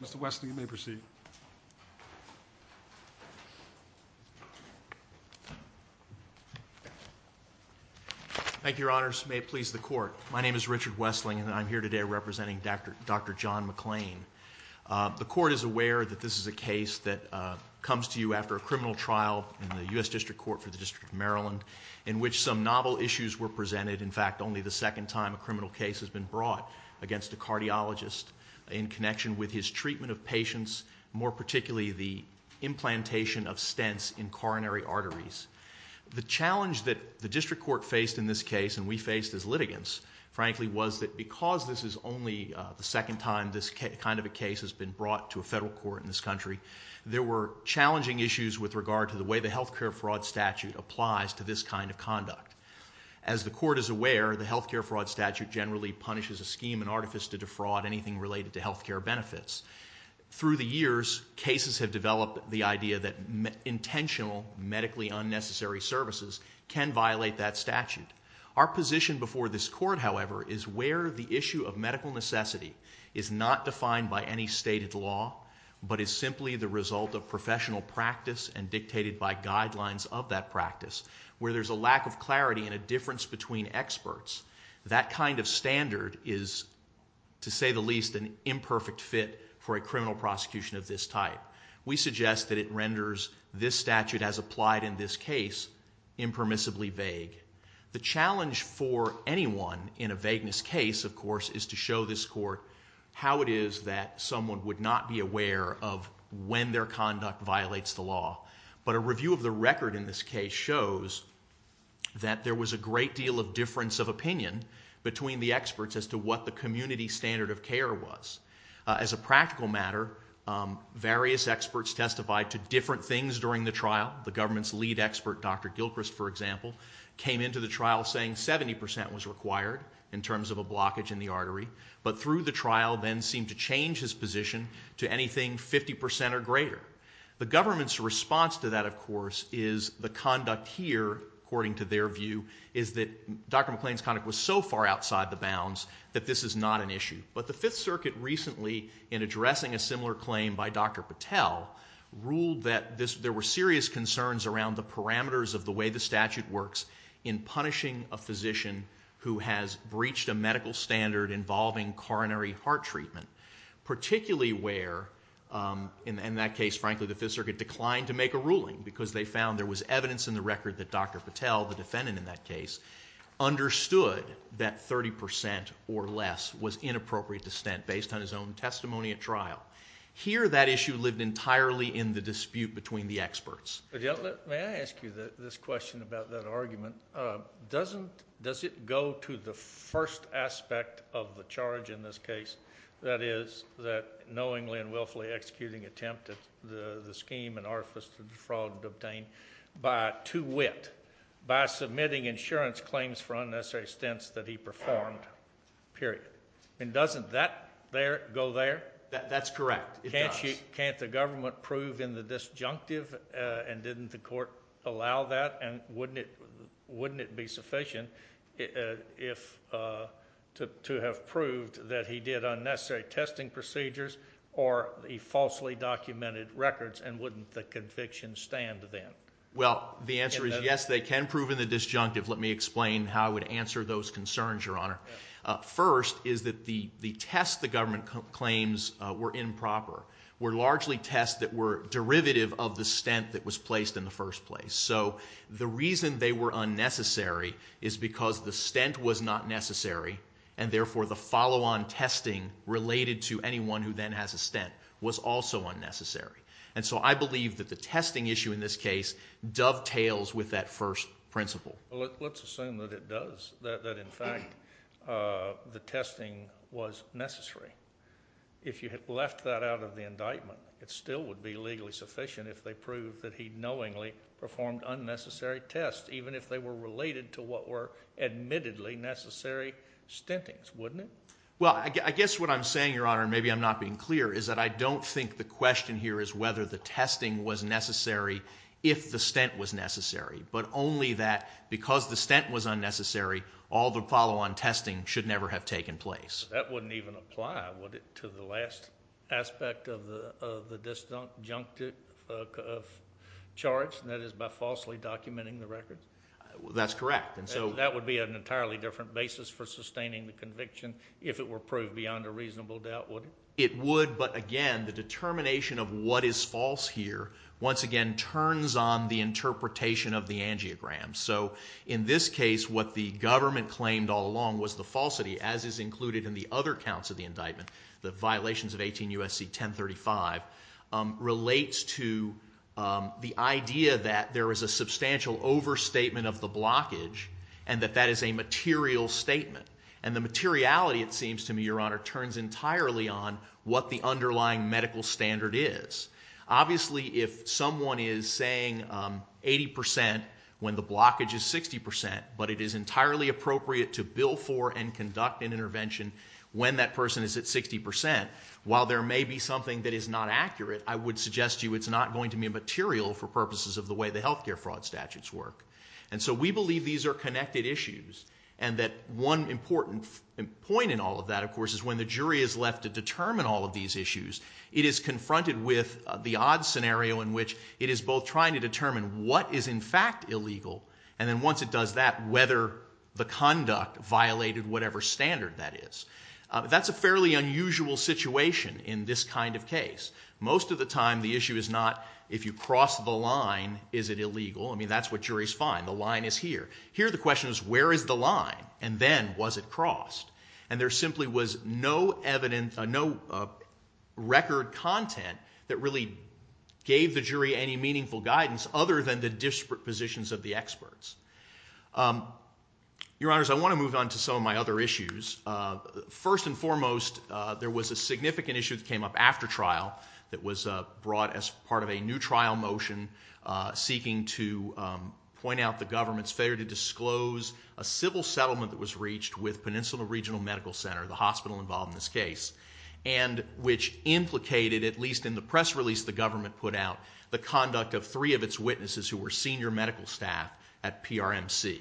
The Court is aware that this is a case that comes to you after a criminal trial in the U.S. District Court for the District of Maryland in which some novel issues were presented. In fact, only the second time a criminal case has been brought against a cardiologist in connection with his treatment of patients, more particularly the implantation of stents in coronary arteries. The challenge that the District Court faced in this case, and we faced as litigants, frankly was that because this is only the second time this kind of a case has been brought to a federal court in this country, there were challenging issues with regard to the way the health care fraud statute applies to this kind of conduct. As the Court is aware, the health care fraud statute generally punishes a scheme and artifice to defraud anything related to health care benefits. Through the years, cases have developed the idea that intentional medically unnecessary services can violate that statute. Our position before this Court, however, is where the issue of medical necessity is not defined by any stated law, but is simply the result of professional practice and dictated by guidelines of that practice, where there's a lack of clarity and a difference between experts. That kind of standard is, to say the least, an imperfect fit for a criminal prosecution of this type. We suggest that it renders this statute as applied in this case impermissibly vague. The challenge for anyone in a vagueness case, of course, is to show this Court how it is that someone would not be aware of when their conduct violates the law. But a review of the record in this case shows that there was a great deal of difference of opinion between the experts as to what the community standard of care was. As a practical matter, various experts testified to different things during the trial. The government's lead expert, Dr. Gilchrist, for example, came into the trial saying 70% but through the trial then seemed to change his position to anything 50% or greater. The government's response to that, of course, is the conduct here, according to their view, is that Dr. McClain's conduct was so far outside the bounds that this is not an issue. But the Fifth Circuit recently, in addressing a similar claim by Dr. Patel, ruled that there were serious concerns around the parameters of the way the statute works in punishing a physician who has breached a medical standard involving coronary heart treatment, particularly where in that case, frankly, the Fifth Circuit declined to make a ruling because they found there was evidence in the record that Dr. Patel, the defendant in that case, understood that 30% or less was inappropriate dissent based on his own testimony at trial. Here that issue lived entirely in the dispute between the experts. May I ask you this question about that argument? Does it go to the first aspect of the charge in this case, that is, that knowingly and willfully executing attempt at the scheme and artifice to defraud and obtain by to wit, by submitting insurance claims for unnecessary stints that he performed, period? Doesn't that go there? That's correct. It does. Why can't the government prove in the disjunctive and didn't the court allow that and wouldn't it be sufficient to have proved that he did unnecessary testing procedures or he falsely documented records and wouldn't the conviction stand then? Well, the answer is yes, they can prove in the disjunctive. Let me explain how I would answer those concerns, Your Honor. First is that the tests the government claims were improper were largely tests that were derivative of the stint that was placed in the first place. So the reason they were unnecessary is because the stint was not necessary and therefore the follow-on testing related to anyone who then has a stint was also unnecessary. And so I believe that the testing issue in this case dovetails with that first principle. Let's assume that it does, that in fact the testing was necessary. If you had left that out of the indictment, it still would be legally sufficient if they proved that he knowingly performed unnecessary tests, even if they were related to what were admittedly necessary stintings, wouldn't it? Well, I guess what I'm saying, Your Honor, maybe I'm not being clear, is that I don't think the question here is whether the testing was necessary if the stint was necessary, but only that because the stint was unnecessary, all the follow-on testing should never have taken place. That wouldn't even apply, would it, to the last aspect of the disjuncted charge, and that is by falsely documenting the record? That's correct. That would be an entirely different basis for sustaining the conviction if it were proved beyond a reasonable doubt, would it? It would, but again, the determination of what is false here once again turns on the angiogram. So in this case, what the government claimed all along was the falsity, as is included in the other counts of the indictment, the violations of 18 U.S.C. 1035, relates to the idea that there is a substantial overstatement of the blockage and that that is a material statement. And the materiality, it seems to me, Your Honor, turns entirely on what the underlying medical standard is. Obviously, if someone is saying 80% when the blockage is 60%, but it is entirely appropriate to bill for and conduct an intervention when that person is at 60%, while there may be something that is not accurate, I would suggest to you it's not going to be material for purposes of the way the health care fraud statutes work. And so we believe these are connected issues and that one important point in all of that, of course, is when the jury is left to determine all of these issues, it is confronted with the odd scenario in which it is both trying to determine what is, in fact, illegal, and then once it does that, whether the conduct violated whatever standard that is. That's a fairly unusual situation in this kind of case. Most of the time, the issue is not if you cross the line, is it illegal? I mean, that's what juries find. The line is here. Here, the question is where is the line? And then, was it crossed? And there simply was no record content that really gave the jury any meaningful guidance other than the disparate positions of the experts. Your Honors, I want to move on to some of my other issues. First and foremost, there was a significant issue that came up after trial that was brought as part of a new trial motion seeking to point out the government's failure to disclose a confidential regional medical center, the hospital involved in this case, and which implicated, at least in the press release the government put out, the conduct of three of its witnesses who were senior medical staff at PRMC.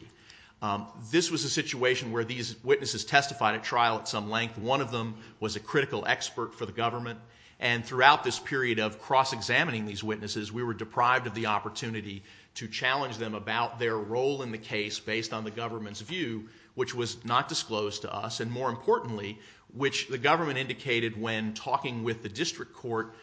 This was a situation where these witnesses testified at trial at some length. One of them was a critical expert for the government. And throughout this period of cross-examining these witnesses, we were deprived of the opportunity to challenge them about their role in the case based on the government's view, which was not disclosed to us, and more importantly, which the government indicated when talking with the district court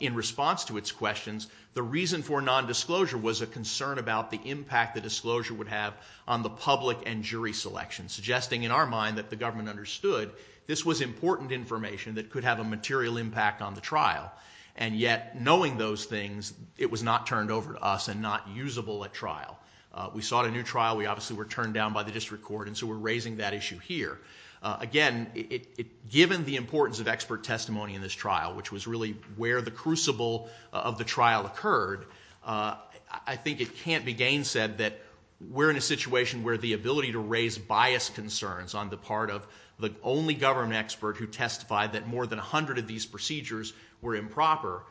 in response to its questions, the reason for nondisclosure was a concern about the impact the disclosure would have on the public and jury selection, suggesting in our mind that the government understood this was important information that could have a material impact on the trial. And yet, knowing those things, it was not turned over to us and not usable at trial. We sought a new trial. We obviously were turned down by the district court, and so we're raising that issue here. Again, given the importance of expert testimony in this trial, which was really where the crucible of the trial occurred, I think it can't be gainsaid that we're in a situation where the ability to raise bias concerns on the part of the only government expert who testified that more than 100 of these procedures were improper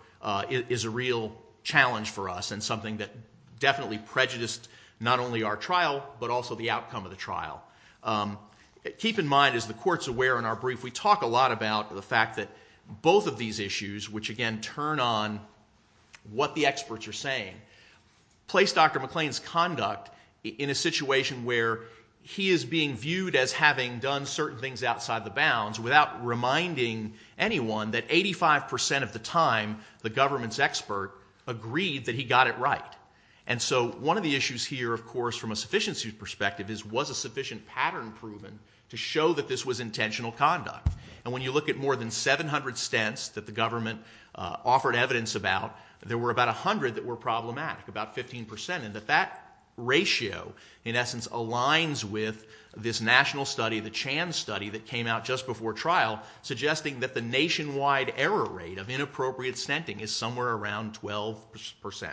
is a real challenge for us and something that definitely prejudiced not only our trial, but also the outcome of the trial. Keep in mind, as the court's aware in our brief, we talk a lot about the fact that both of these issues, which again turn on what the experts are saying, place Dr. McLean's conduct in a situation where he is being viewed as having done certain things outside the bounds without reminding anyone that 85% of the time the government's expert agreed that he got it right. And so one of the issues here, of course, from a sufficiency perspective, is was a sufficient pattern proven to show that this was intentional conduct? And when you look at more than 700 stents that the government offered evidence about, there were about 100 that were problematic, about 15%, and that that ratio in essence aligns with this national study, the Chan study that came out just before trial, suggesting that the nationwide error rate of inappropriate stenting is somewhere around 12%.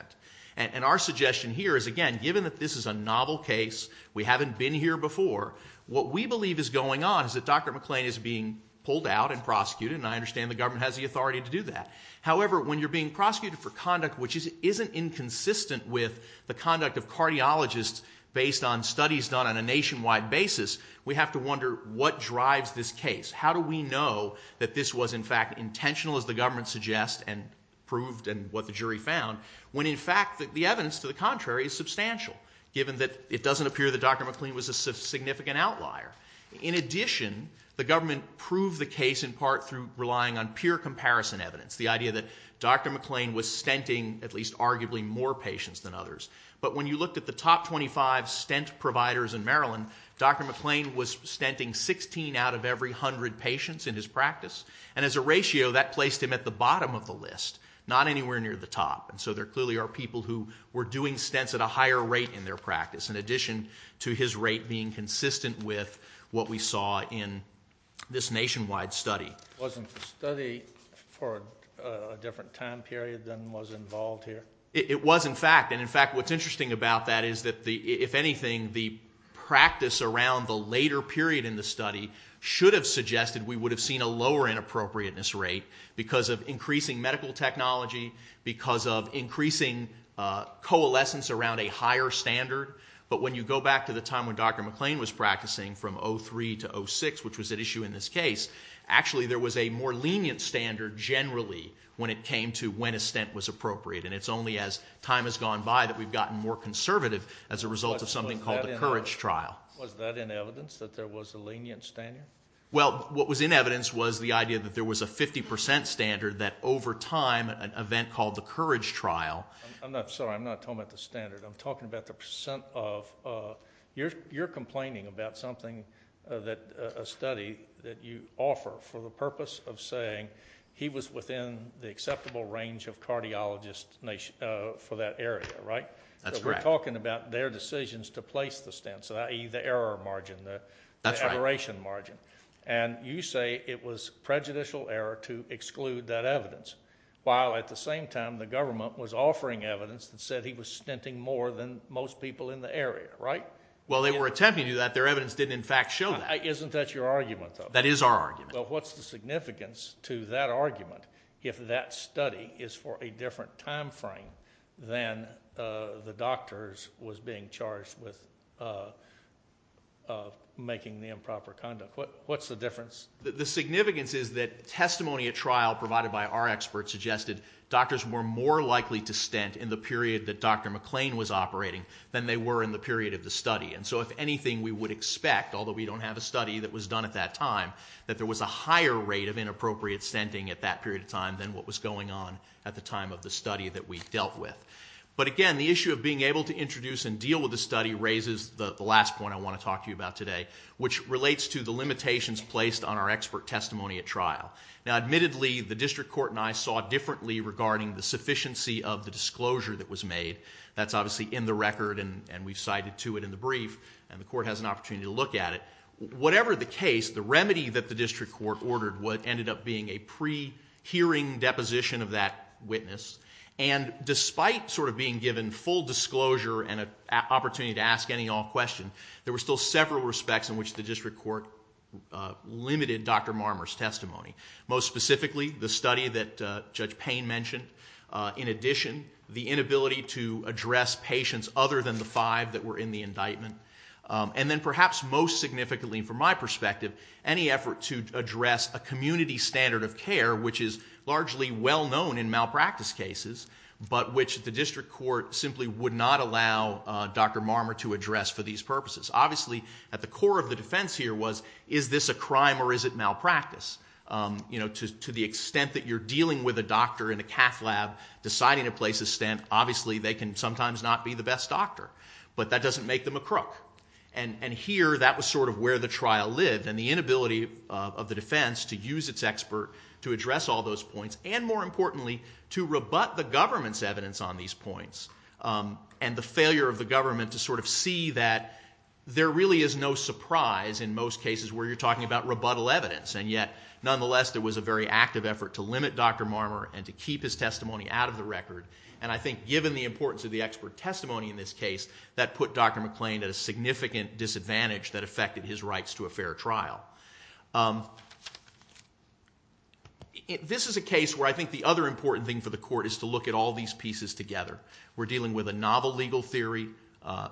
And our suggestion here is, again, given that this is a novel case, we haven't been here before, what we believe is going on is that Dr. McLean is being pulled out and prosecuted, and I understand the government has the authority to do that. However, when you're being prosecuted for conduct which isn't inconsistent with the conduct of cardiologists based on studies done on a nationwide basis, we have to wonder what drives this case. How do we know that this was in fact intentional as the government suggests and proved and what the jury found, when in fact the evidence to the contrary is substantial, given that it doesn't appear that Dr. McLean was a significant outlier? In addition, the government proved the case in part through relying on pure comparison evidence, the idea that Dr. McLean was stenting at least arguably more patients than others. But when you looked at the top 25 stent providers in Maryland, Dr. McLean was stenting 16 out of every 100 patients in his practice, and as a ratio, that placed him at the bottom of the list, not anywhere near the top, and so there clearly are people who were doing stents at a higher rate in their practice, in addition to his rate being consistent with what we saw in this nationwide study. Wasn't the study for a different time period than was involved here? It was in fact, and in fact what's interesting about that is that the, if anything, the practice around the later period in the study should have suggested we would have seen a lower inappropriateness rate because of increasing medical technology, because of increasing coalescence around a higher standard, but when you go back to the time when Dr. McLean was practicing from 03 to 06, which was at issue in this case, actually there was a more lenient standard generally when it came to when a stent was appropriate, and it's only as time has gone by that we've gotten more conservative as a result of something called the COURAGE trial. Was that in evidence, that there was a lenient standard? Well, what was in evidence was the idea that there was a 50% standard that over time, an event called the COURAGE trial. I'm not, sorry, I'm not talking about the standard, I'm talking about the percent of, you're complaining about something that, a study that you offer for the purpose of saying he was within the acceptable range of cardiologists for that area, right? That's correct. I'm talking about their decisions to place the stents, i.e. the error margin, the aberration That's right. And you say it was prejudicial error to exclude that evidence, while at the same time the government was offering evidence that said he was stenting more than most people in the area, right? Well, they were attempting to do that, their evidence didn't in fact show that. Isn't that your argument, though? That is our argument. Well, what's the significance to that argument, if that study is for a different time frame than the doctors was being charged with making the improper conduct? What's the difference? The significance is that testimony at trial provided by our experts suggested doctors were more likely to stent in the period that Dr. McClain was operating than they were in the period of the study. And so if anything, we would expect, although we don't have a study that was done at that time, that there was a higher rate of inappropriate stenting at that period of time than what was going on at the time of the study that we dealt with. But again, the issue of being able to introduce and deal with the study raises the last point I want to talk to you about today, which relates to the limitations placed on our expert testimony at trial. Now, admittedly, the district court and I saw differently regarding the sufficiency of the disclosure that was made. That's obviously in the record, and we've cited to it in the brief, and the court has an opportunity to look at it. We've seen deposition of that witness, and despite sort of being given full disclosure and an opportunity to ask any and all questions, there were still several respects in which the district court limited Dr. Marmer's testimony. Most specifically, the study that Judge Payne mentioned. In addition, the inability to address patients other than the five that were in the indictment. And then perhaps most significantly, from my perspective, any effort to address a community standard of care, which is largely well known in malpractice cases, but which the district court simply would not allow Dr. Marmer to address for these purposes. Obviously at the core of the defense here was, is this a crime or is it malpractice? To the extent that you're dealing with a doctor in a cath lab, deciding to place a stent, obviously they can sometimes not be the best doctor. But that doesn't make them a crook. And here, that was sort of where the trial lived, and the inability of the defense to use its expert to address all those points, and more importantly, to rebut the government's evidence on these points. And the failure of the government to sort of see that there really is no surprise in most cases where you're talking about rebuttal evidence. And yet, nonetheless, there was a very active effort to limit Dr. Marmer and to keep his testimony out of the record. And I think given the importance of the expert testimony in this case, that put Dr. McClain at a significant disadvantage that affected his rights to a fair trial. This is a case where I think the other important thing for the court is to look at all these pieces together. We're dealing with a novel legal theory,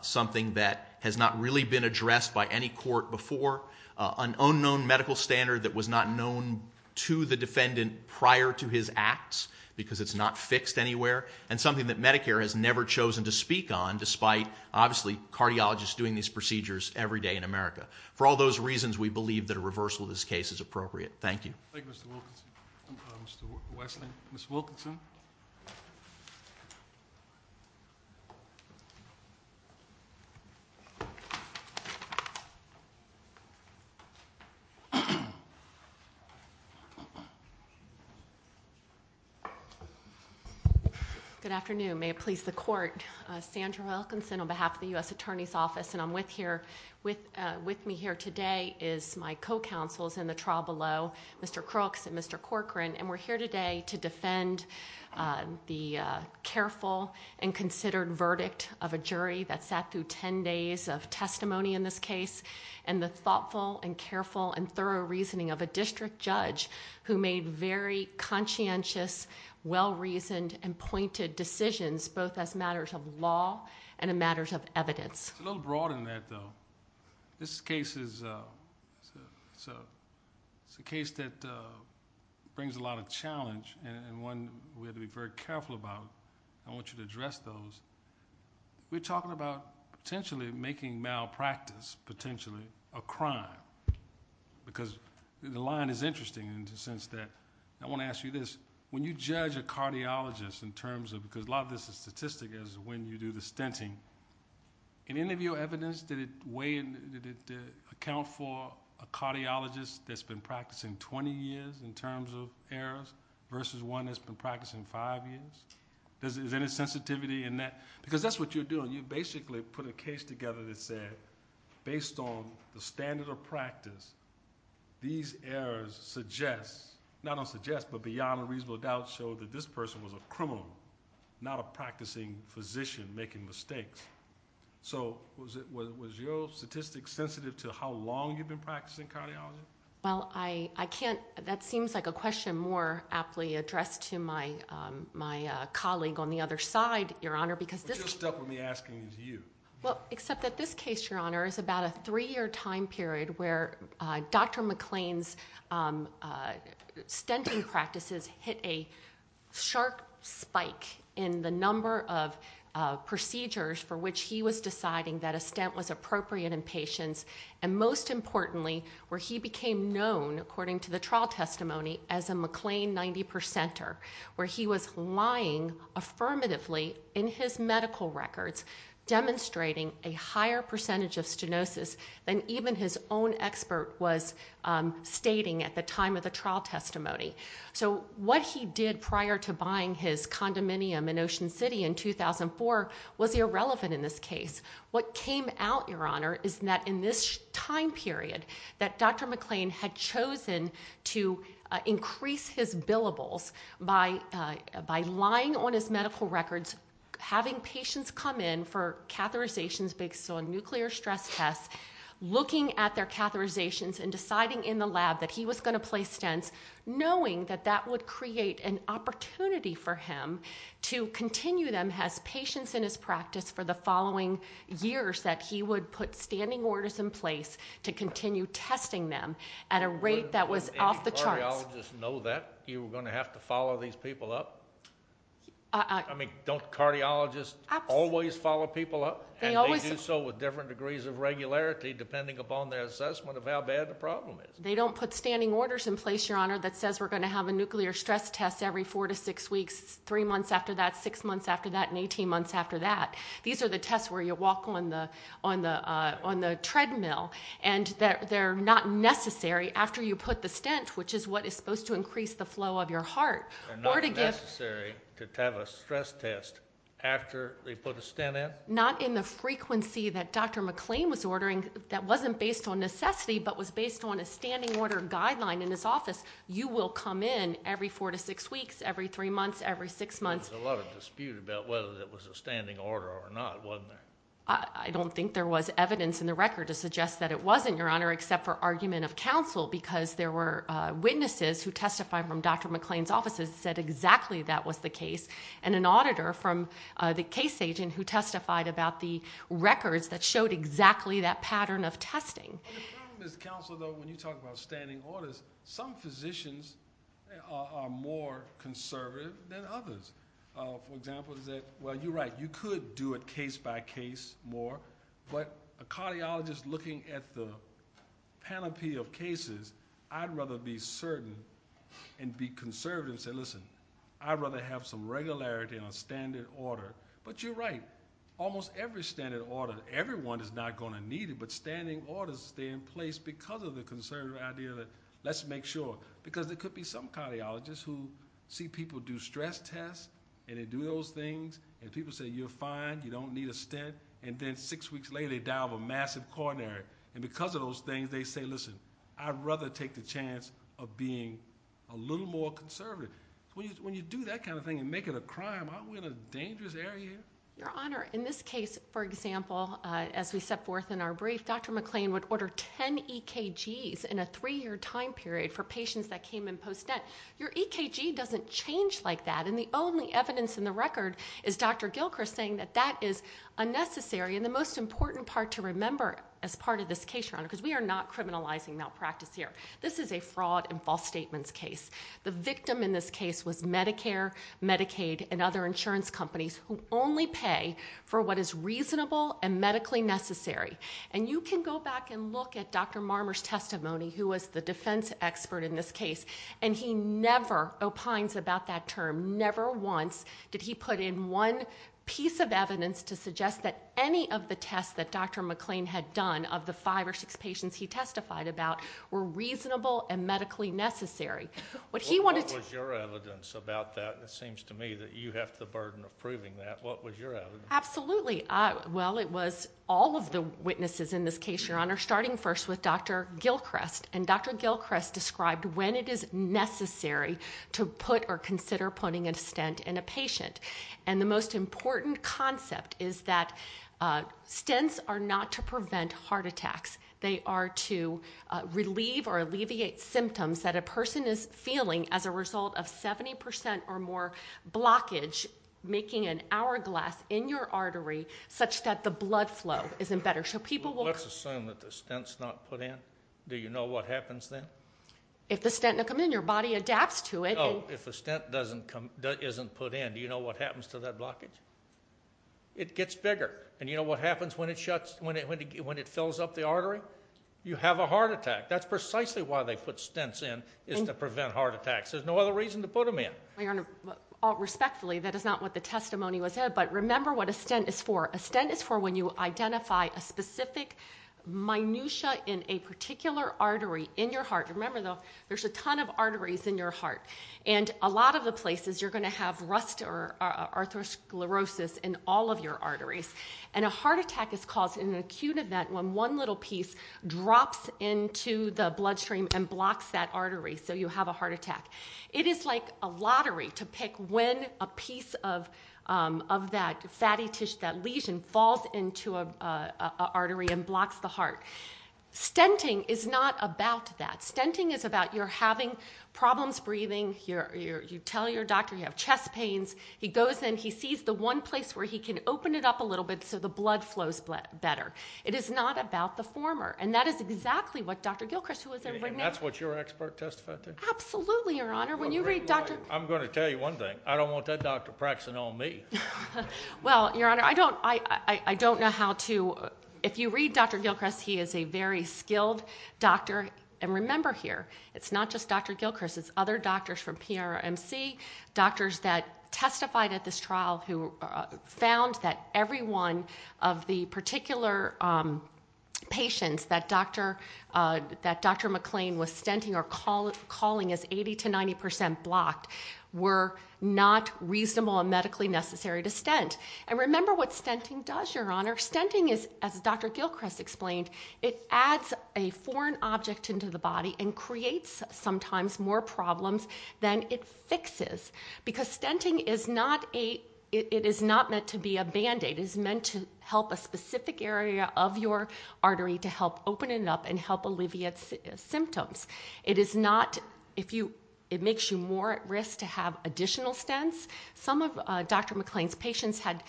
something that has not really been addressed by any court before, an unknown medical standard that was not known to the defendant prior to his acts, because it's not fixed anywhere, and something that Medicare has never chosen to speak on, despite, obviously, cardiologists doing these procedures every day in America. For all those reasons, we believe that a reversal of this case is appropriate. Thank you. Thank you, Mr. Wilkinson. Mr. Wesley? Ms. Wilkinson? Good afternoon. May it please the court, Sandra Wilkinson on behalf of the U.S. Attorney's Office, and I'm with here... with me here today is my co-counsels in the trial below, Mr. Crooks and Mr. Corcoran, and we're here today to defend the careful and considered verdict of a jury that sat through ten days of testimony in this case, and the thoughtful and careful and thorough reasoning of a district judge who made very conscientious, well-reasoned, and pointed decisions, both as matters of law and as matters of evidence. It's a little broader than that, though. This case is a case that brings a lot of challenge, and one we have to be very careful about. I want you to address those. We're talking about potentially making malpractice, potentially, a crime, because the line is in terms of... because a lot of this is statistic, is when you do the stinting. In any of your evidence, did it weigh in... did it account for a cardiologist that's been practicing 20 years, in terms of errors, versus one that's been practicing five years? Is there any sensitivity in that? Because that's what you're doing. You basically put a case together that said, based on the standard of practice, these errors suggest... not only suggest, but beyond a reasonable doubt, show that this person was a criminal, not a practicing physician making mistakes. Was your statistic sensitive to how long you've been practicing cardiology? That seems like a question more aptly addressed to my colleague on the other side, Your Honor, because this... Just stop with me asking you. Well, except that this case, Your Honor, is about a three-year time period where Dr. McClain's stinting practices hit a sharp spike in the number of procedures for which he was deciding that a stint was appropriate in patients, and most importantly, where he became known, according to the trial testimony, as a McClain 90-percenter, where he was lying affirmatively in his medical records, demonstrating a higher percentage of stenosis than even his own expert was stating at the time of the trial testimony. So what he did prior to buying his condominium in Ocean City in 2004 was irrelevant in this case. What came out, Your Honor, is that in this time period, that Dr. McClain had chosen to increase his billables by lying on his medical records, having patients come in for catheterizations based on nuclear stress tests, looking at their catheterizations and deciding in the lab that he was going to place stents, knowing that that would create an opportunity for him to continue them as patients in his practice for the following years, that he would put standing orders in place to continue testing them at a rate that was off the charts. Did cardiologists know that you were going to have to follow these people up? I mean, don't cardiologists always follow people up? And they do so with different degrees of regularity, depending upon their assessment of how bad the problem is. They don't put standing orders in place, Your Honor, that says we're going to have a nuclear stress test every four to six weeks, three months after that, six months after that, and 18 months after that. These are the tests where you walk on the treadmill, and they're not necessary after you put the stent, which is what is supposed to increase the flow of your heart. They're not necessary to have a stress test after they put a stent in? Not in the frequency that Dr. McLean was ordering that wasn't based on necessity, but was based on a standing order guideline in his office. You will come in every four to six weeks, every three months, every six months. There was a lot of dispute about whether it was a standing order or not, wasn't there? I don't think there was evidence in the record to suggest that it wasn't, Your Honor, except for argument of counsel, because there were witnesses who testified from Dr. McLean's office who said exactly that was the case, and an auditor from the case agent who testified about the records that showed exactly that pattern of testing. The problem is, counsel, though, when you talk about standing orders, some physicians are more conservative than others. For example, you're right. You could do it case by case more, but a cardiologist looking at the panoply of cases, I'd rather be certain and be conservative and say, listen, I'd rather have some regularity on standard order. But you're right. Almost every standard order, everyone is not going to need it, but standing orders stay in place because of the conservative idea that let's make sure, because there could be some cardiologists who see people do stress tests, and they do those things, and people say you're fine, you don't need a stent, and then six weeks later, they die of a massive coronary. And because of those things, they say, listen, I'd rather take the chance of being a little more conservative. When you do that kind of thing and make it a crime, aren't we in a dangerous area? Your Honor, in this case, for example, as we set forth in our brief, Dr. McLean would order 10 EKGs in a three-year time period for patients that came in post-net. Your EKG doesn't change like that, and the only evidence in the record is Dr. Gilchrist saying that that is unnecessary, and the most important part to remember as part of this case, Your Honor, because we are not criminalizing malpractice here. This is a fraud and false statements case. The victim in this case was Medicare, Medicaid, and other insurance companies who only pay for what is reasonable and medically necessary. And you can go back and look at Dr. Marmer's testimony, who was the defense expert in this to suggest that any of the tests that Dr. McLean had done of the five or six patients he testified about were reasonable and medically necessary. What he wanted to- What was your evidence about that? It seems to me that you have the burden of proving that. What was your evidence? Absolutely. Well, it was all of the witnesses in this case, Your Honor, starting first with Dr. Gilchrist, and Dr. Gilchrist described when it is necessary to put or consider putting a stent in a patient. And the most important concept is that stents are not to prevent heart attacks. They are to relieve or alleviate symptoms that a person is feeling as a result of 70% or more blockage, making an hourglass in your artery such that the blood flow isn't better. So people will- Let's assume that the stent's not put in. Do you know what happens then? If the stent doesn't come in, your body adapts to it. If a stent isn't put in, do you know what happens to that blockage? It gets bigger. And you know what happens when it fills up the artery? You have a heart attack. That's precisely why they put stents in, is to prevent heart attacks. There's no other reason to put them in. Your Honor, respectfully, that is not what the testimony was said, but remember what a stent is for. A stent is for when you identify a specific minutia in a particular artery in your heart. Remember, though, there's a ton of arteries in your heart. And a lot of the places, you're going to have rust or arthrosclerosis in all of your arteries. And a heart attack is caused in an acute event when one little piece drops into the bloodstream and blocks that artery, so you have a heart attack. It is like a lottery to pick when a piece of that fatty tissue, that lesion, falls into an artery and blocks the heart. Stenting is not about that. Stenting is about you're having problems breathing. You tell your doctor you have chest pains. He goes in. He sees the one place where he can open it up a little bit so the blood flows better. It is not about the former. And that is exactly what Dr. Gilchrist, who was there right now. And that's what your expert testified to? Absolutely, Your Honor. When you read Dr. I'm going to tell you one thing. I don't want that doctor practicing on me. Well, Your Honor, I don't know how to. If you read Dr. Gilchrist, he is a very skilled doctor. And remember here, it's not just Dr. Gilchrist, it's other doctors from PRMC, doctors that testified at this trial who found that every one of the particular patients that Dr. McLean was stenting or calling as 80% to 90% blocked were not reasonable and medically necessary to stent. And remember what stenting does, Your Honor. Stenting is, as Dr. Gilchrist explained, it adds a foreign object into the body and creates sometimes more problems than it fixes. Because stenting is not a, it is not meant to be a band-aid, it is meant to help a specific area of your artery to help open it up and help alleviate symptoms. It is not, if you, it makes you more at risk to have additional stents. Some of Dr. McLean's patients had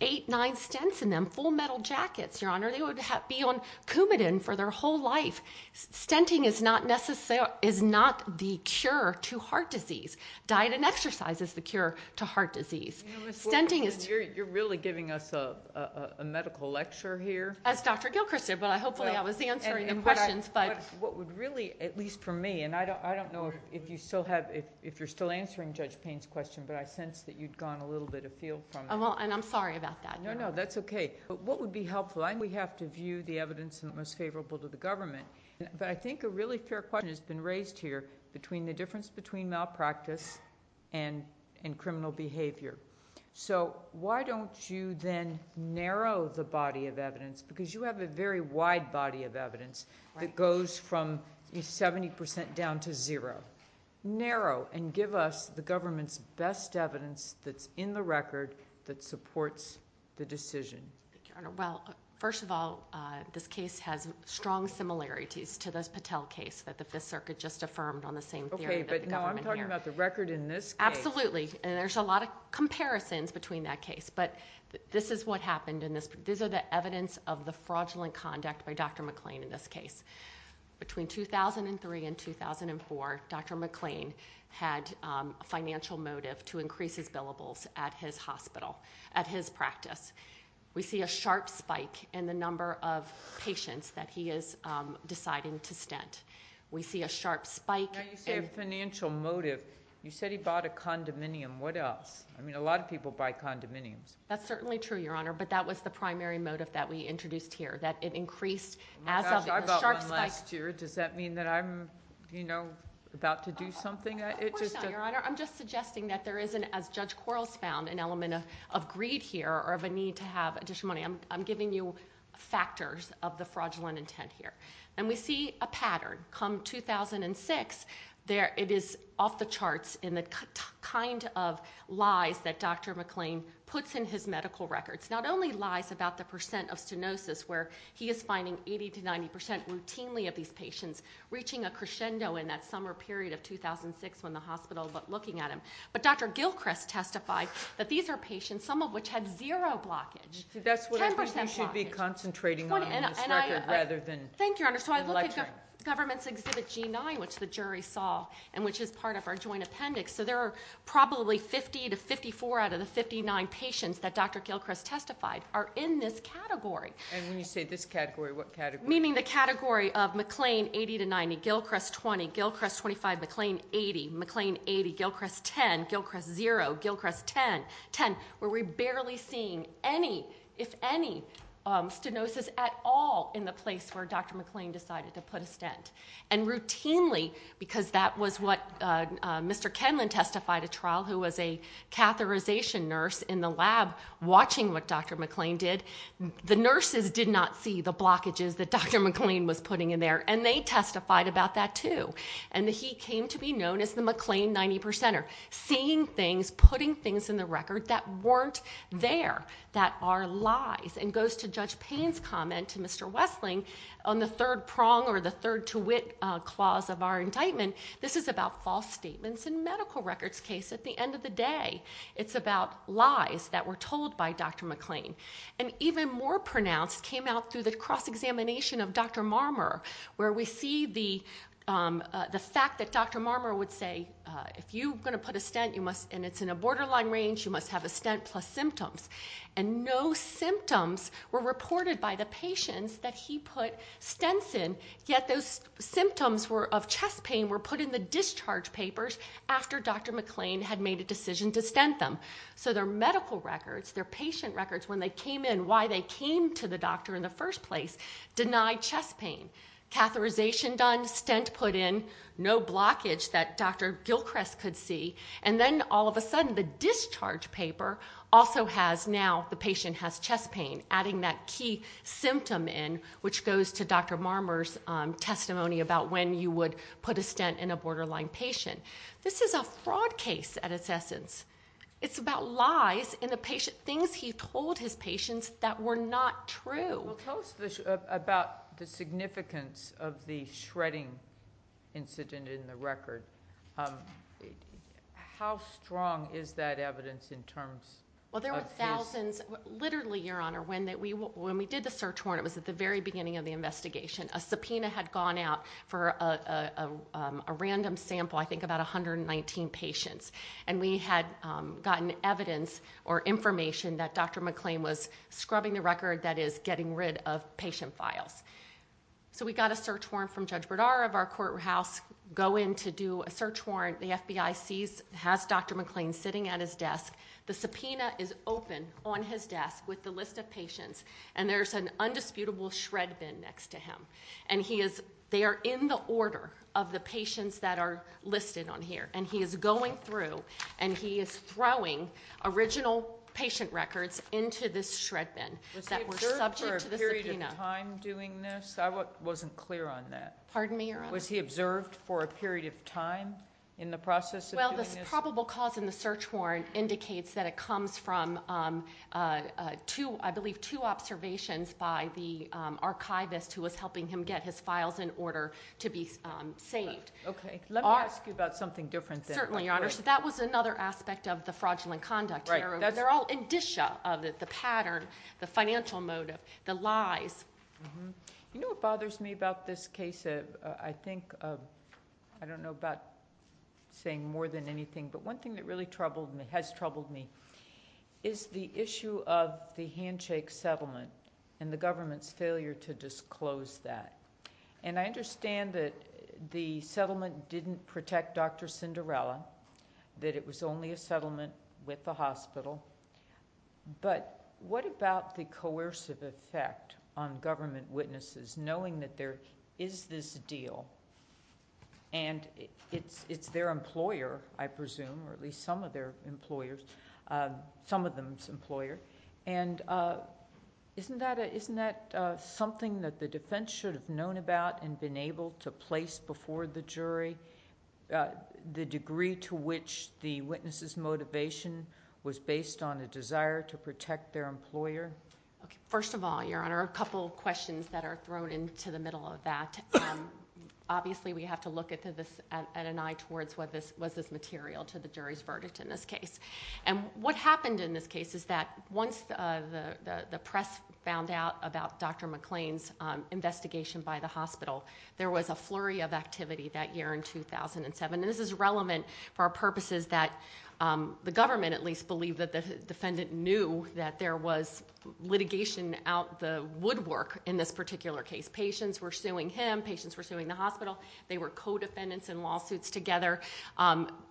eight, nine stents in them, full metal jackets, Your Honor. They would be on Coumadin for their whole life. Stenting is not the cure to heart disease. Diet and exercise is the cure to heart disease. Stenting is- You're really giving us a medical lecture here? As Dr. Gilchrist did, but hopefully I was answering the questions, but- What would really, at least for me, and I don't know if you still have, if you're still having that sense that you'd gone a little bit afield from that. And I'm sorry about that. No, no, that's okay. What would be helpful? I think we have to view the evidence in the most favorable to the government, but I think a really fair question has been raised here between the difference between malpractice and criminal behavior. So why don't you then narrow the body of evidence, because you have a very wide body of evidence that goes from 70% down to zero. Narrow, and give us the government's best evidence that's in the record that supports the decision. Well, first of all, this case has strong similarities to the Patel case that the Fifth Circuit just affirmed on the same- Okay, but now I'm talking about the record in this case. Absolutely. And there's a lot of comparisons between that case, but this is what happened in this. These are the evidence of the fraudulent conduct by Dr. McClain in this case. Between 2003 and 2004, Dr. McClain had a financial motive to increase his billables at his hospital, at his practice. We see a sharp spike in the number of patients that he is deciding to stint. We see a sharp spike- Now you say financial motive. You said he bought a condominium. What else? I mean, a lot of people buy condominiums. That's certainly true, Your Honor, but that was the primary motive that we introduced here, that it increased as of- A sharp spike-... last year. Does that mean that I'm about to do something? It just- Of course not, Your Honor. I'm just suggesting that there isn't, as Judge Quarles found, an element of greed here or of a need to have a discernment. I'm giving you factors of the fraudulent intent here. And we see a pattern. Come 2006, it is off the charts in the kind of lies that Dr. McClain puts in his medical records. Not only lies about the percent of stenosis, where he is finding 80 to 90% routinely of these patients, reaching a crescendo in that summer period of 2006 when the hospital looked looking at him. But Dr. Gilchrist testified that these are patients, some of which had zero blockage. 10% blockage. That's what I think we should be concentrating on in this record rather than- Thank you, Your Honor. So I looked at the government's exhibit G9, which the jury saw, and which is part of our joint appendix. So there are probably 50 to 54 out of the 59 patients that Dr. Gilchrist testified are in this category. And when you say this category, what category? Meaning the category of McClain 80 to 90, Gilchrist 20, Gilchrist 25, McClain 80, McClain 80, Gilchrist 10, Gilchrist zero, Gilchrist 10, 10, where we're barely seeing any, if any, stenosis at all in the place where Dr. McClain decided to put a stent. And routinely, because that was what Mr. Kenlon testified at trial, who was a catheterization nurse in the lab watching what Dr. McClain did, the nurses did not see the blockages that Dr. McClain was putting in there. And they testified about that too. And he came to be known as the McClain 90 percenter, seeing things, putting things in the record that weren't there, that are lies. And goes to Judge Payne's comment to Mr. Westling on the third prong or the third to wit clause of our indictment, this is about false statements in medical records case at the end of the day. It's about lies that were told by Dr. McClain. And even more pronounced came out through the cross-examination of Dr. Marmer, where we see the fact that Dr. Marmer would say, if you're going to put a stent, and it's in a borderline range, you must have a stent plus symptoms. And no symptoms were reported by the patients that he put stents in, yet those symptoms were of chest pain were put in the discharge papers after Dr. McClain had made a decision to stent them. So their medical records, their patient records, when they came in, why they came to the doctor in the first place, denied chest pain. Catheterization done, stent put in, no blockage that Dr. Gilchrist could see. And then all of a sudden, the discharge paper also has now, the patient has chest pain, adding that key symptom in, which goes to Dr. Marmer's testimony about when you would put a stent in a borderline patient. This is a fraud case at its essence. It's about lies in the patient, things he told his patients that were not true. Well, tell us about the significance of the shredding incident in the record. How strong is that evidence in terms of his- Well, there were thousands, literally, Your Honor, when we did the search warrant, it was at the very beginning of the investigation. A subpoena had gone out for a random sample, I think about 119 patients. And we had gotten evidence or information that Dr. McClain was scrubbing the record, that is, getting rid of patient files. So we got a search warrant from Judge Berdara of our courthouse, go in to do a search warrant. The FBI sees, has Dr. McClain sitting at his desk. The subpoena is open on his desk with the list of patients. And there's an undisputable shred bin next to him. And he is, they are in the order of the patients that are listed on here. And he is going through, and he is throwing original patient records into this shred bin that were subject to the subpoena. Was he observed for a period of time doing this? I wasn't clear on that. Pardon me, Your Honor? Was he observed for a period of time in the process of doing this? Well, the probable cause in the search warrant indicates that it comes from two, I believe, two observations by the archivist who was helping him get his files in order to be saved. Okay. Let me ask you about something different then. Certainly, Your Honor. So that was another aspect of the fraudulent conduct. Right. They're all indicia of it, the pattern, the financial motive, the lies. You know what bothers me about this case? I think, I don't know about saying more than anything, but one thing that really troubled me, has troubled me, is the issue of the handshake settlement and the government's failure to disclose that. And I understand that the settlement didn't protect Dr. Cinderella, that it was only a settlement with the hospital, but what about the coercive effect on government witnesses, knowing that there is this deal, and it's their employer, I presume, or at least some of their employers, some of them's employers, and isn't that something that the defense should have known about and been able to place before the jury, the degree to which the witness's motivation was based on a desire to protect their employer? Okay. First of all, Your Honor, a couple of questions that are thrown into the middle of that. Obviously, we have to look at an eye towards was this material to the jury's verdict in this case. And what happened in this case is that once the press found out about Dr. Cinderella's involvement with the hospital, there was a flurry of activity that year in 2007. And this is relevant for our purposes that the government, at least, believed that the defendant knew that there was litigation out the woodwork in this particular case. Patients were suing him, patients were suing the hospital, they were co-defendants in lawsuits together.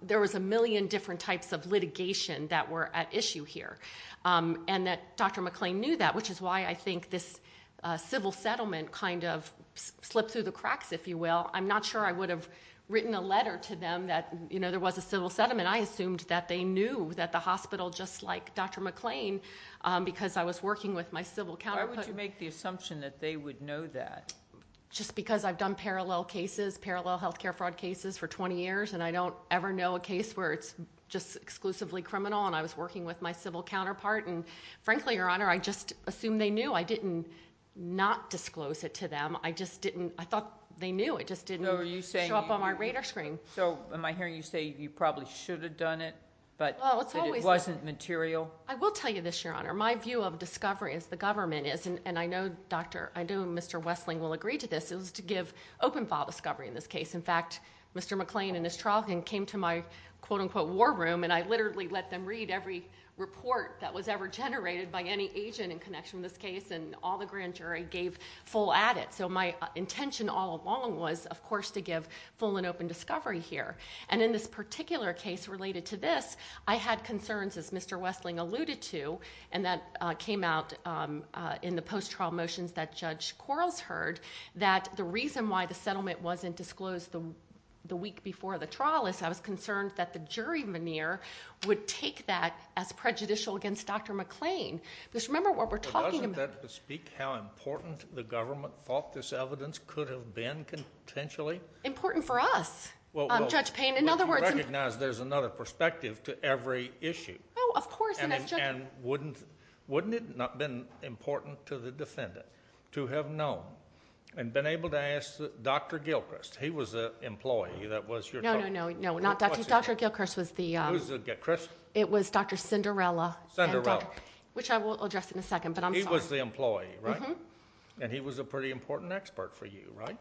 There was a million different types of litigation that were at issue here. And that Dr. McClain knew that, which is why I think this civil settlement kind of slipped through the cracks, if you will. I'm not sure I would have written a letter to them that there was a civil settlement. I assumed that they knew that the hospital, just like Dr. McClain, because I was working with my civil counterpart... Why would you make the assumption that they would know that? Just because I've done parallel cases, parallel healthcare fraud cases for twenty years, and I don't ever know a case where it's just exclusively criminal, and I was working with my civil counterpart. And frankly, Your Honor, I just assumed they knew. I didn't not disclose it to them. I just didn't... I thought they knew. It just didn't show up on my radar screen. So am I hearing you say you probably should have done it, but it wasn't material? I will tell you this, Your Honor. My view of discovery, as the government is, and I know Dr.... I know Mr. Wessling will agree to this, is to give open file discovery in this case. In fact, Mr. McClain and Ms. Trolkin came to my quote-unquote war room, and I literally let them read every report that was ever generated by any agent in connection with this case, and all the grand jury gave full at it. So my intention all along was, of course, to give full and open discovery here. And in this particular case related to this, I had concerns, as Mr. Wessling alluded to, and that came out in the post-trial motions that Judge Quarles heard, that the reason why the settlement wasn't disclosed the week before the trial is I was concerned that the jury veneer would take that as prejudicial against Dr. McClain. Because remember what we're talking about... But doesn't that speak how important the government thought this evidence could have been, potentially? Important for us, Judge Payne. In other words... Well, you recognize there's another perspective to every issue. Oh, of course. And wouldn't it not have been important to the defendant to have known and been able to ask Dr. Gilchrist? He was an employee that was your... No, no, no. Not Dr.... Dr. Gilchrist was the... Who was it again? Chris? It was Dr. Cinderella. Cinderella. Which I will address in a second, but I'm sorry. He was the employee, right? Mm-hmm. And he was a pretty important expert for you, right?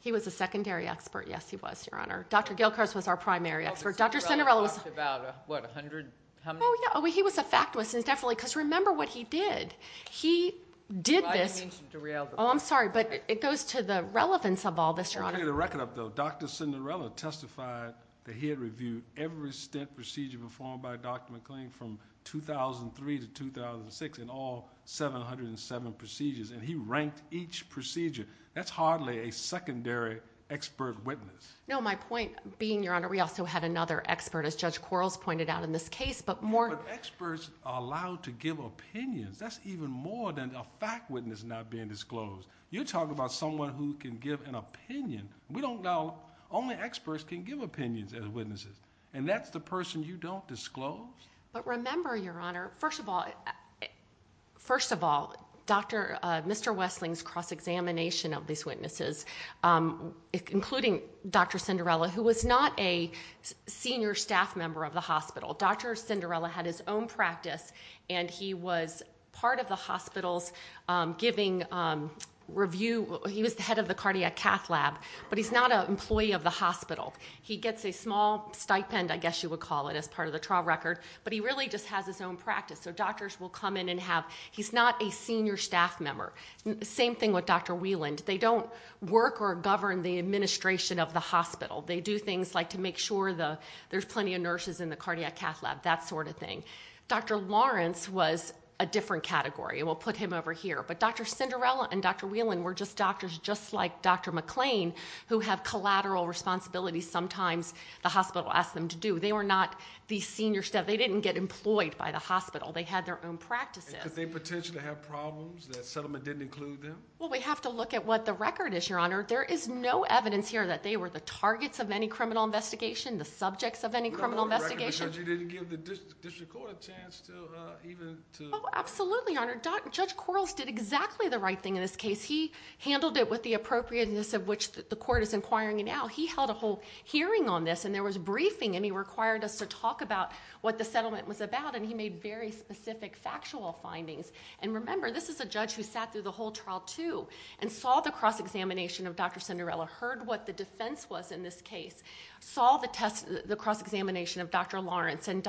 He was a secondary expert. Yes, he was, Your Honor. Dr. Gilchrist was our primary expert. Dr. Cinderella was... Dr. Cinderella talked about, what, 100... Oh, yeah. He was a fact witness, definitely, because remember what he did. He did this... I didn't mean to derail the point. Oh, I'm sorry. But it goes to the relevance of all this, Your Honor. Let me get a record up, though. Dr. Cinderella testified that he had reviewed every stint procedure performed by Dr. McClain from 2003 to 2006 in all 707 procedures, and he ranked each procedure. That's hardly a secondary expert witness. No, my point being, Your Honor, we also had another expert, as Judge Quarles pointed out in this case, but more... But experts are allowed to give opinions. That's even more than a fact witness not being disclosed. You're talking about someone who can give an opinion. We don't know... Only experts can give opinions as witnesses, and that's the person you don't disclose. But remember, Your Honor, first of all, Mr. Westling's cross-examination of these witnesses, including Dr. Cinderella, who was not a senior staff member of the hospital. Dr. Cinderella had his own practice, and he was part of the hospital's giving review. He was the head of the cardiac cath lab, but he's not an employee of the hospital. He gets a small stipend, I guess you would call it, as part of the trial record, but he really just has his own practice. So doctors will come in and have... He's not a senior staff member. Same thing with Dr. Wieland. They don't work or govern the administration of the hospital. They do things like to make sure there's plenty of nurses in the cardiac cath lab, that sort of thing. Dr. Lawrence was a different category, and we'll put him over here. But Dr. Cinderella and Dr. Wieland were just doctors, just like Dr. McClain, who have collateral responsibilities. Sometimes the hospital asks them to do. They were not the senior staff. They didn't get employed by the hospital. They had their own practices. Did they potentially have problems that settlement didn't include them? Well, we have to look at what the record is, Your Honor. There is no evidence here that they were the targets of any criminal investigation, the subjects of any criminal investigation. You didn't give the district court a chance to even... Absolutely, Your Honor. Judge Quarles did exactly the right thing in this case. He handled it with the appropriateness of which the court is inquiring now. He held a whole hearing on this, and there was a briefing, and he required us to talk about what the settlement was about, and he made very specific factual findings. And remember, this is a judge who sat through the whole trial, too, and saw the cross-examination of Dr. Cinderella, heard what the defense was in this case, saw the cross-examination of Dr. Lawrence, and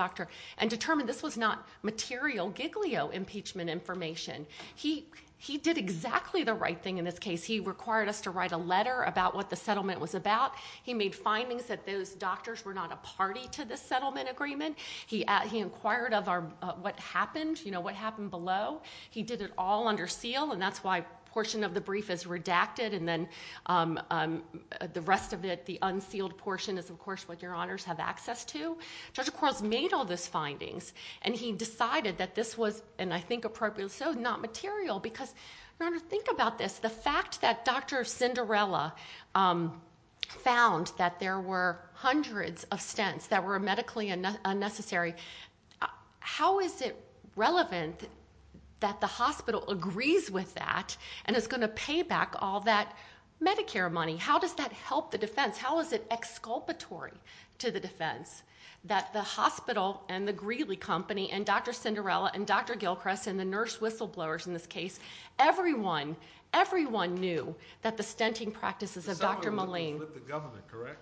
determined this was not material giglio impeachment information. He did exactly the right thing in this case. He required us to write a letter about what the settlement was about. He made findings that those doctors were not a party to this settlement agreement. He inquired of what happened below. He did it all under seal, and that's why a portion of the brief is redacted, and then the rest of it, the unsealed portion, is, of course, what Your Honors have access to. Judge Quarles made all those findings, and he decided that this was, and I think appropriately so, not material because, Your Honor, think about this. The fact that Dr. Cinderella found that there were hundreds of stents that were medically unnecessary, how is it relevant that the hospital agrees with that and is going to pay back all that Medicare money? How does that help the defense? How is it exculpatory to the defense that the hospital and the Greeley Company and Dr. Cinderella and Dr. Gilchrist and the nurse whistleblowers in this case, everyone, everyone knew that the stenting practices of Dr. Moline The settlement was with the government, correct?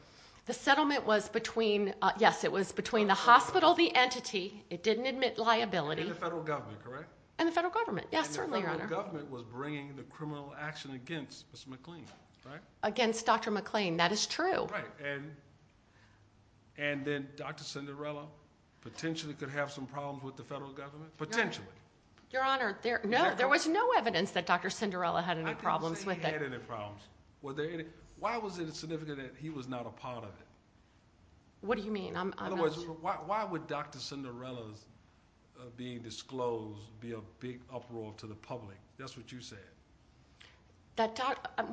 The settlement was between, yes, it was between the hospital, the entity. It didn't admit liability. And the federal government, correct? And the federal government, yes, certainly, Your Honor. And the federal government was bringing the criminal action against Ms. McLean, right? Against Dr. McLean, that is true. Right, and then Dr. Cinderella potentially could have some problems with the federal government? Potentially. Your Honor, there was no evidence that Dr. Cinderella had any problems with it. I didn't say he had any problems. Why was it significant that he was not a part of it? What do you mean? In other words, why would Dr. Cinderella's being disclosed be a big uproar to the public? That's what you said.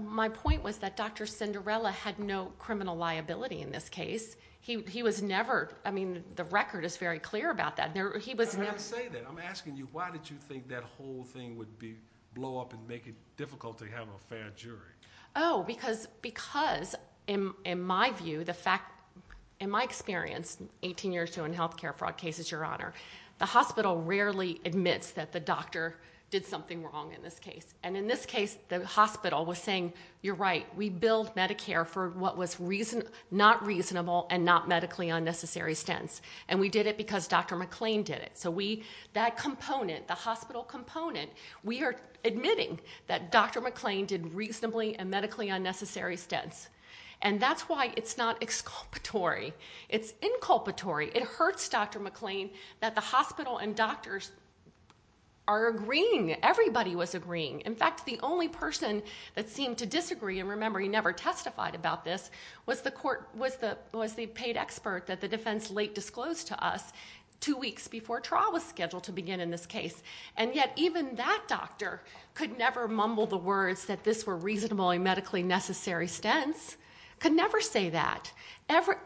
My point was that Dr. Cinderella had no criminal liability in this case. He was never, I mean, the record is very clear about that. I'm asking you, why did you think that whole thing would blow up and make it difficult to have a fair jury? Oh, because in my view, in my experience, 18 years doing health care fraud cases, Your Honor, the hospital rarely admits that the doctor did something wrong in this case. And in this case, the hospital was saying, you're right, we billed Medicare for what was not reasonable and not medically unnecessary stents, and we did it because Dr. McLean did it. So that component, the hospital component, we are admitting that Dr. McLean did reasonably and medically unnecessary stents, and that's why it's not exculpatory. It's inculpatory. It hurts Dr. McLean that the hospital and doctors are agreeing. Everybody was agreeing. In fact, the only person that seemed to disagree, and remember, he never testified about this, was the paid expert that the defense late disclosed to us two weeks before trial was scheduled to begin in this case. And yet even that doctor could never mumble the words that this were reasonably medically necessary stents, could never say that.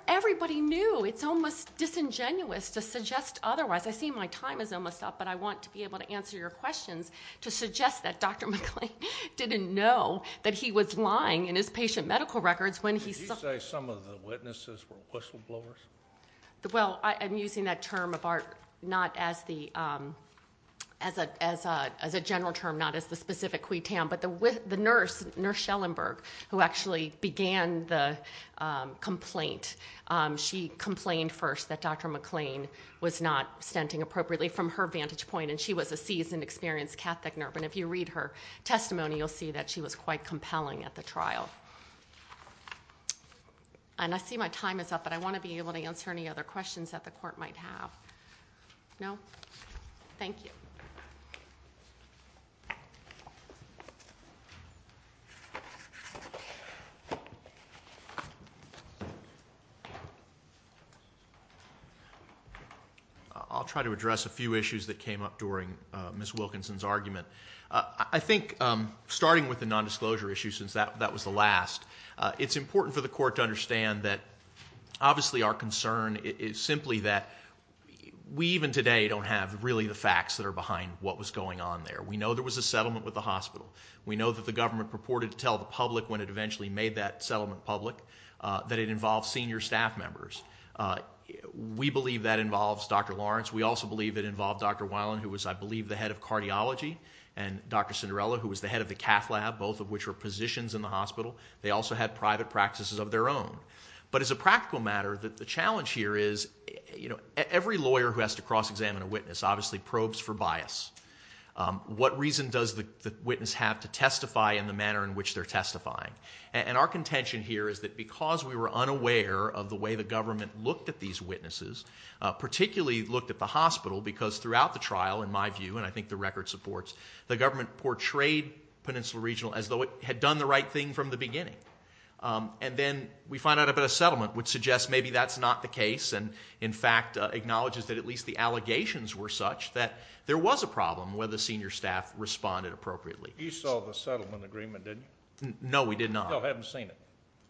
Everybody knew. It's almost disingenuous to suggest otherwise. I see my time is almost up, but I want to be able to answer your questions to suggest that Dr. McLean didn't know that he was lying in his patient medical records when he saw. Did you say some of the witnesses were whistleblowers? Well, I'm using that term of ours not as a general term, not as the specific quid tam, but the nurse, Nurse Schellenberg, who actually began the complaint, she complained first that Dr. McLean was not stenting appropriately from her vantage point, and she was a seasoned, experienced Catholic nurse. And if you read her testimony, you'll see that she was quite compelling at the trial. And I see my time is up, but I want to be able to answer any other questions that the court might have. No? Thank you. I'll try to address a few issues that came up during Ms. Wilkinson's argument. I think starting with the nondisclosure issue, since that was the last, it's important for the court to understand that, obviously, our concern is simply that we, even today, don't have really the facts that are behind what was going on there. We know there was a settlement with the hospital. We know that the government purported to tell the public when it eventually made that settlement public that it involved senior staff members. We believe that involves Dr. Lawrence. We also believe it involved Dr. Weiland, who was, I believe, the head of cardiology, and Dr. Cinderella, who was the head of the cath lab, both of which were positions in the hospital. They also had private practices of their own. But as a practical matter, the challenge here is, you know, every lawyer who has to cross-examine a witness obviously probes for bias. What reason does the witness have to testify in the manner in which they're testifying? And our contention here is that because we were unaware of the way the government looked at these witnesses, particularly looked at the hospital, because throughout the trial, in my view, and I think the record supports, the government portrayed Peninsula Regional as though it had done the right thing from the beginning. And then we find out about a settlement, which suggests maybe that's not the case, and, in fact, acknowledges that at least the allegations were such that there was a problem where the senior staff responded appropriately. You saw the settlement agreement, didn't you? No, we did not. You still haven't seen it?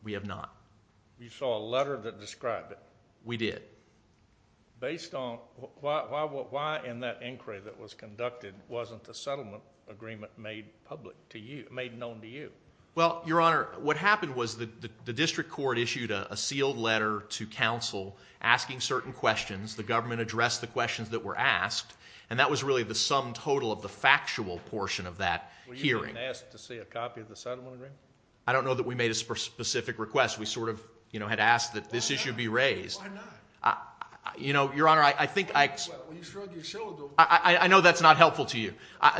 We have not. You saw a letter that described it? We did. Based on why in that inquiry that was conducted wasn't the settlement agreement made known to you? Well, Your Honor, what happened was the district court issued a sealed letter to counsel asking certain questions. The government addressed the questions that were asked, and that was really the sum total of the factual portion of that hearing. Were you asked to see a copy of the settlement agreement? I don't know that we made a specific request. We sort of had asked that this issue be raised. Why not? You know, Your Honor, I think I— Well, you shrugged your shoulders. I know that's not helpful to you.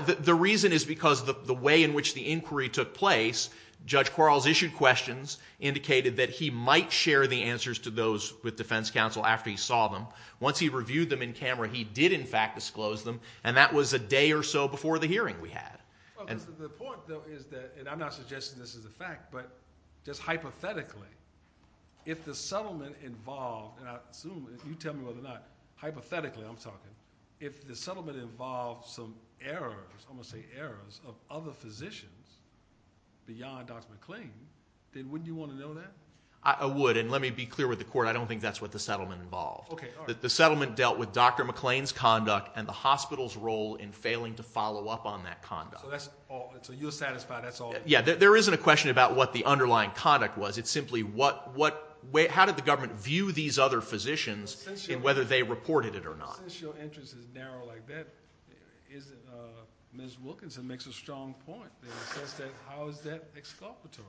The reason is because the way in which the inquiry took place, Judge Quarles issued questions, indicated that he might share the answers to those with defense counsel after he saw them. Once he reviewed them in camera, he did, in fact, disclose them, and that was a day or so before the hearing we had. The point, though, is that—and I'm not suggesting this is a fact, but just hypothetically, if the settlement involved—and I assume you tell me whether or not hypothetically I'm talking— if the settlement involved some errors, I'm going to say errors, of other physicians beyond Dr. McClain, then wouldn't you want to know that? I would, and let me be clear with the court. I don't think that's what the settlement involved. Okay, all right. The settlement dealt with Dr. McClain's conduct and the hospital's role in failing to follow up on that conduct. So that's all—so you're satisfied that's all— Yeah, there isn't a question about what the underlying conduct was. It's simply what—how did the government view these other physicians and whether they reported it or not. Since your interest is narrow like that, Ms. Wilkinson makes a strong point. She says that—how is that exculpatory?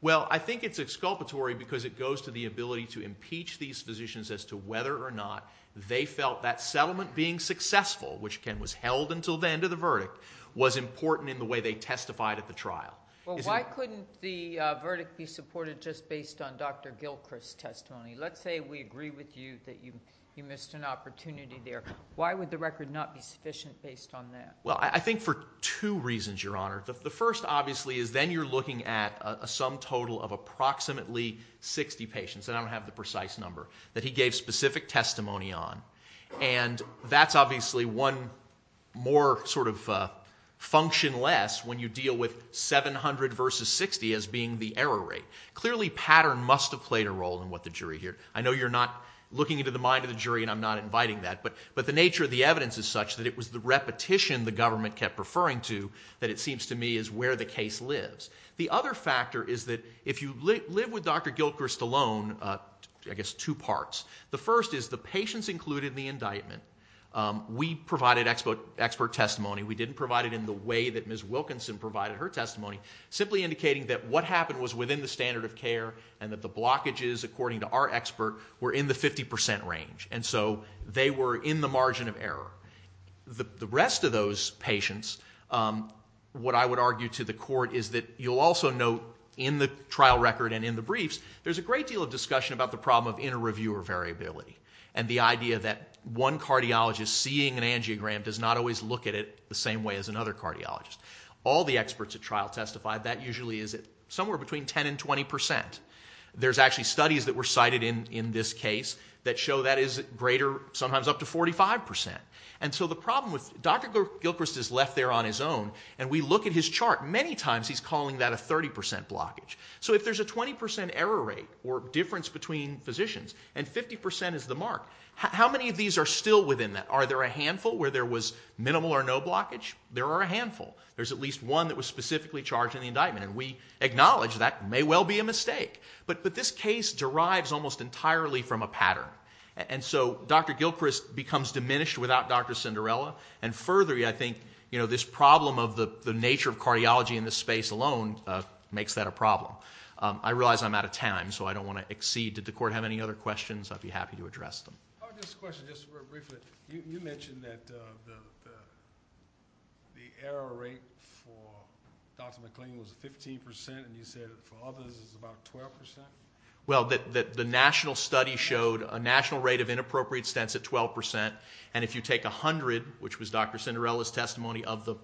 Well, I think it's exculpatory because it goes to the ability to impeach these physicians as to whether or not they felt that settlement being successful, which again was held until the end of the verdict, was important in the way they testified at the trial. Well, why couldn't the verdict be supported just based on Dr. Gilchrist's testimony? Let's say we agree with you that you missed an opportunity there. Why would the record not be sufficient based on that? Well, I think for two reasons, Your Honor. The first, obviously, is then you're looking at a sum total of approximately 60 patients, and I don't have the precise number, that he gave specific testimony on, and that's obviously one more sort of function less when you deal with 700 versus 60 as being the error rate. Clearly, pattern must have played a role in what the jury heard. I know you're not looking into the mind of the jury, and I'm not inviting that, but the nature of the evidence is such that it was the repetition the government kept referring to that it seems to me is where the case lives. The other factor is that if you live with Dr. Gilchrist alone, I guess two parts. The first is the patients included in the indictment. We provided expert testimony. We didn't provide it in the way that Ms. Wilkinson provided her testimony, simply indicating that what happened was within the standard of care and that the blockages, according to our expert, were in the 50% range, and so they were in the margin of error. The rest of those patients, what I would argue to the court, is that you'll also note in the trial record and in the briefs, there's a great deal of discussion about the problem of inter-reviewer variability and the idea that one cardiologist seeing an angiogram does not always look at it the same way as another cardiologist. All the experts at trial testified that usually is somewhere between 10% and 20%. There's actually studies that were cited in this case that show that is greater, sometimes up to 45%. Dr. Gilchrist is left there on his own, and we look at his chart. Many times he's calling that a 30% blockage. So if there's a 20% error rate or difference between physicians and 50% is the mark, how many of these are still within that? Are there a handful where there was minimal or no blockage? There are a handful. There's at least one that was specifically charged in the indictment, and we acknowledge that may well be a mistake. But this case derives almost entirely from a pattern, and so Dr. Gilchrist becomes diminished without Dr. Cinderella, and further, I think this problem of the nature of cardiology in this space alone makes that a problem. I realize I'm out of time, so I don't want to exceed. Did the court have any other questions? I'd be happy to address them. I have just a question, just briefly. You mentioned that the error rate for Dr. McLean was 15%, and you said for others it's about 12%. Well, the national study showed a national rate of inappropriate stents at 12%, and if you take 100, which was Dr. Cinderella's testimony of the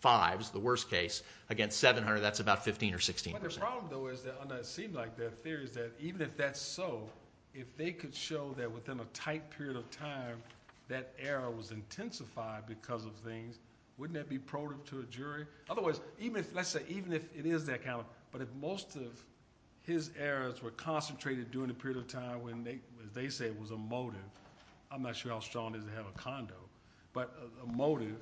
fives, the worst case, against 700, that's about 15% or 16%. But the problem, though, is that it seemed like their theory is that even if that's so, if they could show that within a tight period of time that error was intensified because of things, wouldn't that be probative to a jury? Otherwise, let's say even if it is that kind of thing, but if most of his errors were concentrated during a period of time when, as they say, it was a motive, I'm not sure how strong it is to have a condo, but a motive,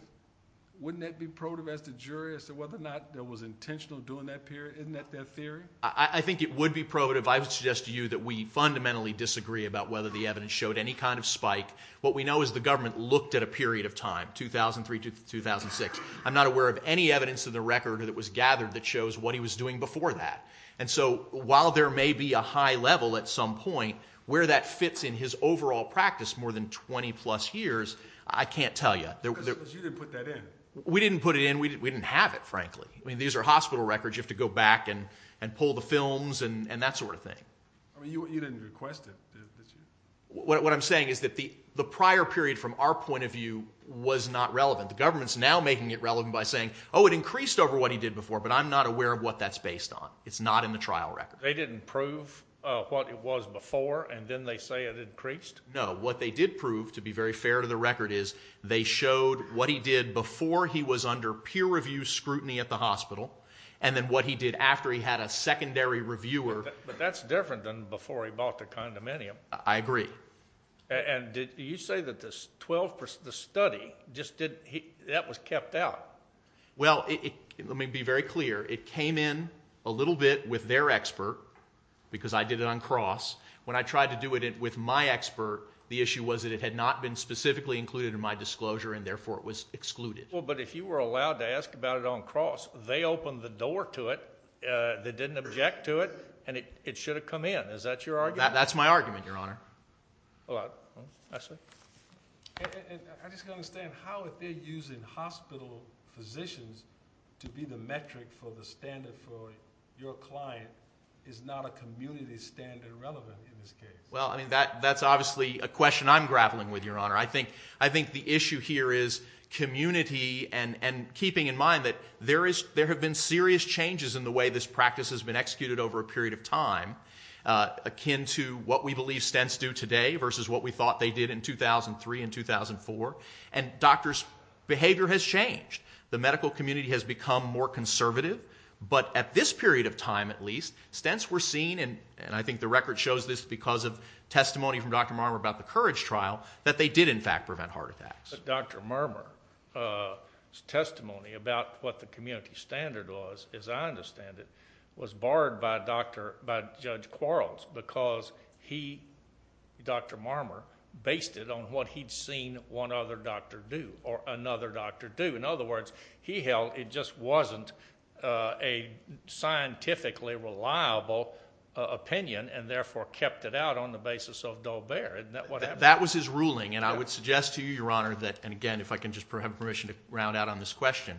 wouldn't that be probative as the jury as to whether or not it was intentional during that period? Isn't that their theory? I think it would be probative. I would suggest to you that we fundamentally disagree about whether the evidence showed any kind of spike. What we know is the government looked at a period of time, 2003 to 2006. I'm not aware of any evidence in the record that was gathered that shows what he was doing before that. And so while there may be a high level at some point where that fits in his overall practice, more than 20-plus years, I can't tell you. Because you didn't put that in. We didn't put it in. We didn't have it, frankly. I mean, these are hospital records. You have to go back and pull the films and that sort of thing. You didn't request it, did you? What I'm saying is that the prior period, from our point of view, was not relevant. The government's now making it relevant by saying, oh, it increased over what he did before, but I'm not aware of what that's based on. It's not in the trial record. They didn't prove what it was before, and then they say it increased? No. What they did prove, to be very fair to the record, is they showed what he did before he was under peer-review scrutiny at the hospital and then what he did after he had a secondary reviewer. But that's different than before he bought the condominium. I agree. And did you say that the study just didn't, that was kept out? Well, let me be very clear. It came in a little bit with their expert because I did it on cross. When I tried to do it with my expert, the issue was that it had not been specifically included in my disclosure and therefore it was excluded. But if you were allowed to ask about it on cross, they opened the door to it. They didn't object to it, and it should have come in. Is that your argument? That's my argument, Your Honor. I see. I just don't understand how they're using hospital physicians to be the metric for the standard for your client is not a community standard relevant in this case. Well, that's obviously a question I'm grappling with, Your Honor. I think the issue here is community and keeping in mind that there have been serious changes in the way this practice has been executed over a period of time akin to what we believe stents do today versus what we thought they did in 2003 and 2004. And doctors' behavior has changed. The medical community has become more conservative. But at this period of time, at least, stents were seen, and I think the record shows this because of testimony from Dr. Marmer about the COURAGE trial, that they did in fact prevent heart attacks. But Dr. Marmer's testimony about what the community standard was, as I understand it, was barred by Judge Quarles because he, Dr. Marmer, based it on what he'd seen one other doctor do or another doctor do. In other words, he held it just wasn't a scientifically reliable opinion and therefore kept it out on the basis of Dover. Isn't that what happened? That was his ruling, and I would suggest to you, Your Honor, and again, if I can just have permission to round out on this question,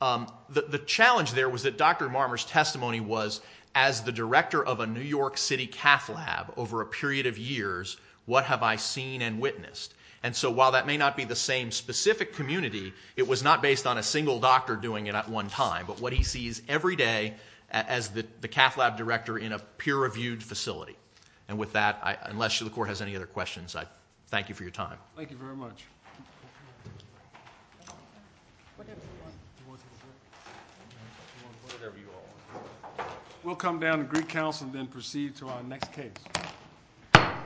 the challenge there was that Dr. Marmer's testimony was as the director of a New York City cath lab over a period of years, what have I seen and witnessed? And so while that may not be the same specific community, it was not based on a single doctor doing it at one time, but what he sees every day as the cath lab director in a peer-reviewed facility. And with that, unless the Court has any other questions, I thank you for your time. Thank you very much. We'll come down to Greek Council and then proceed to our next case.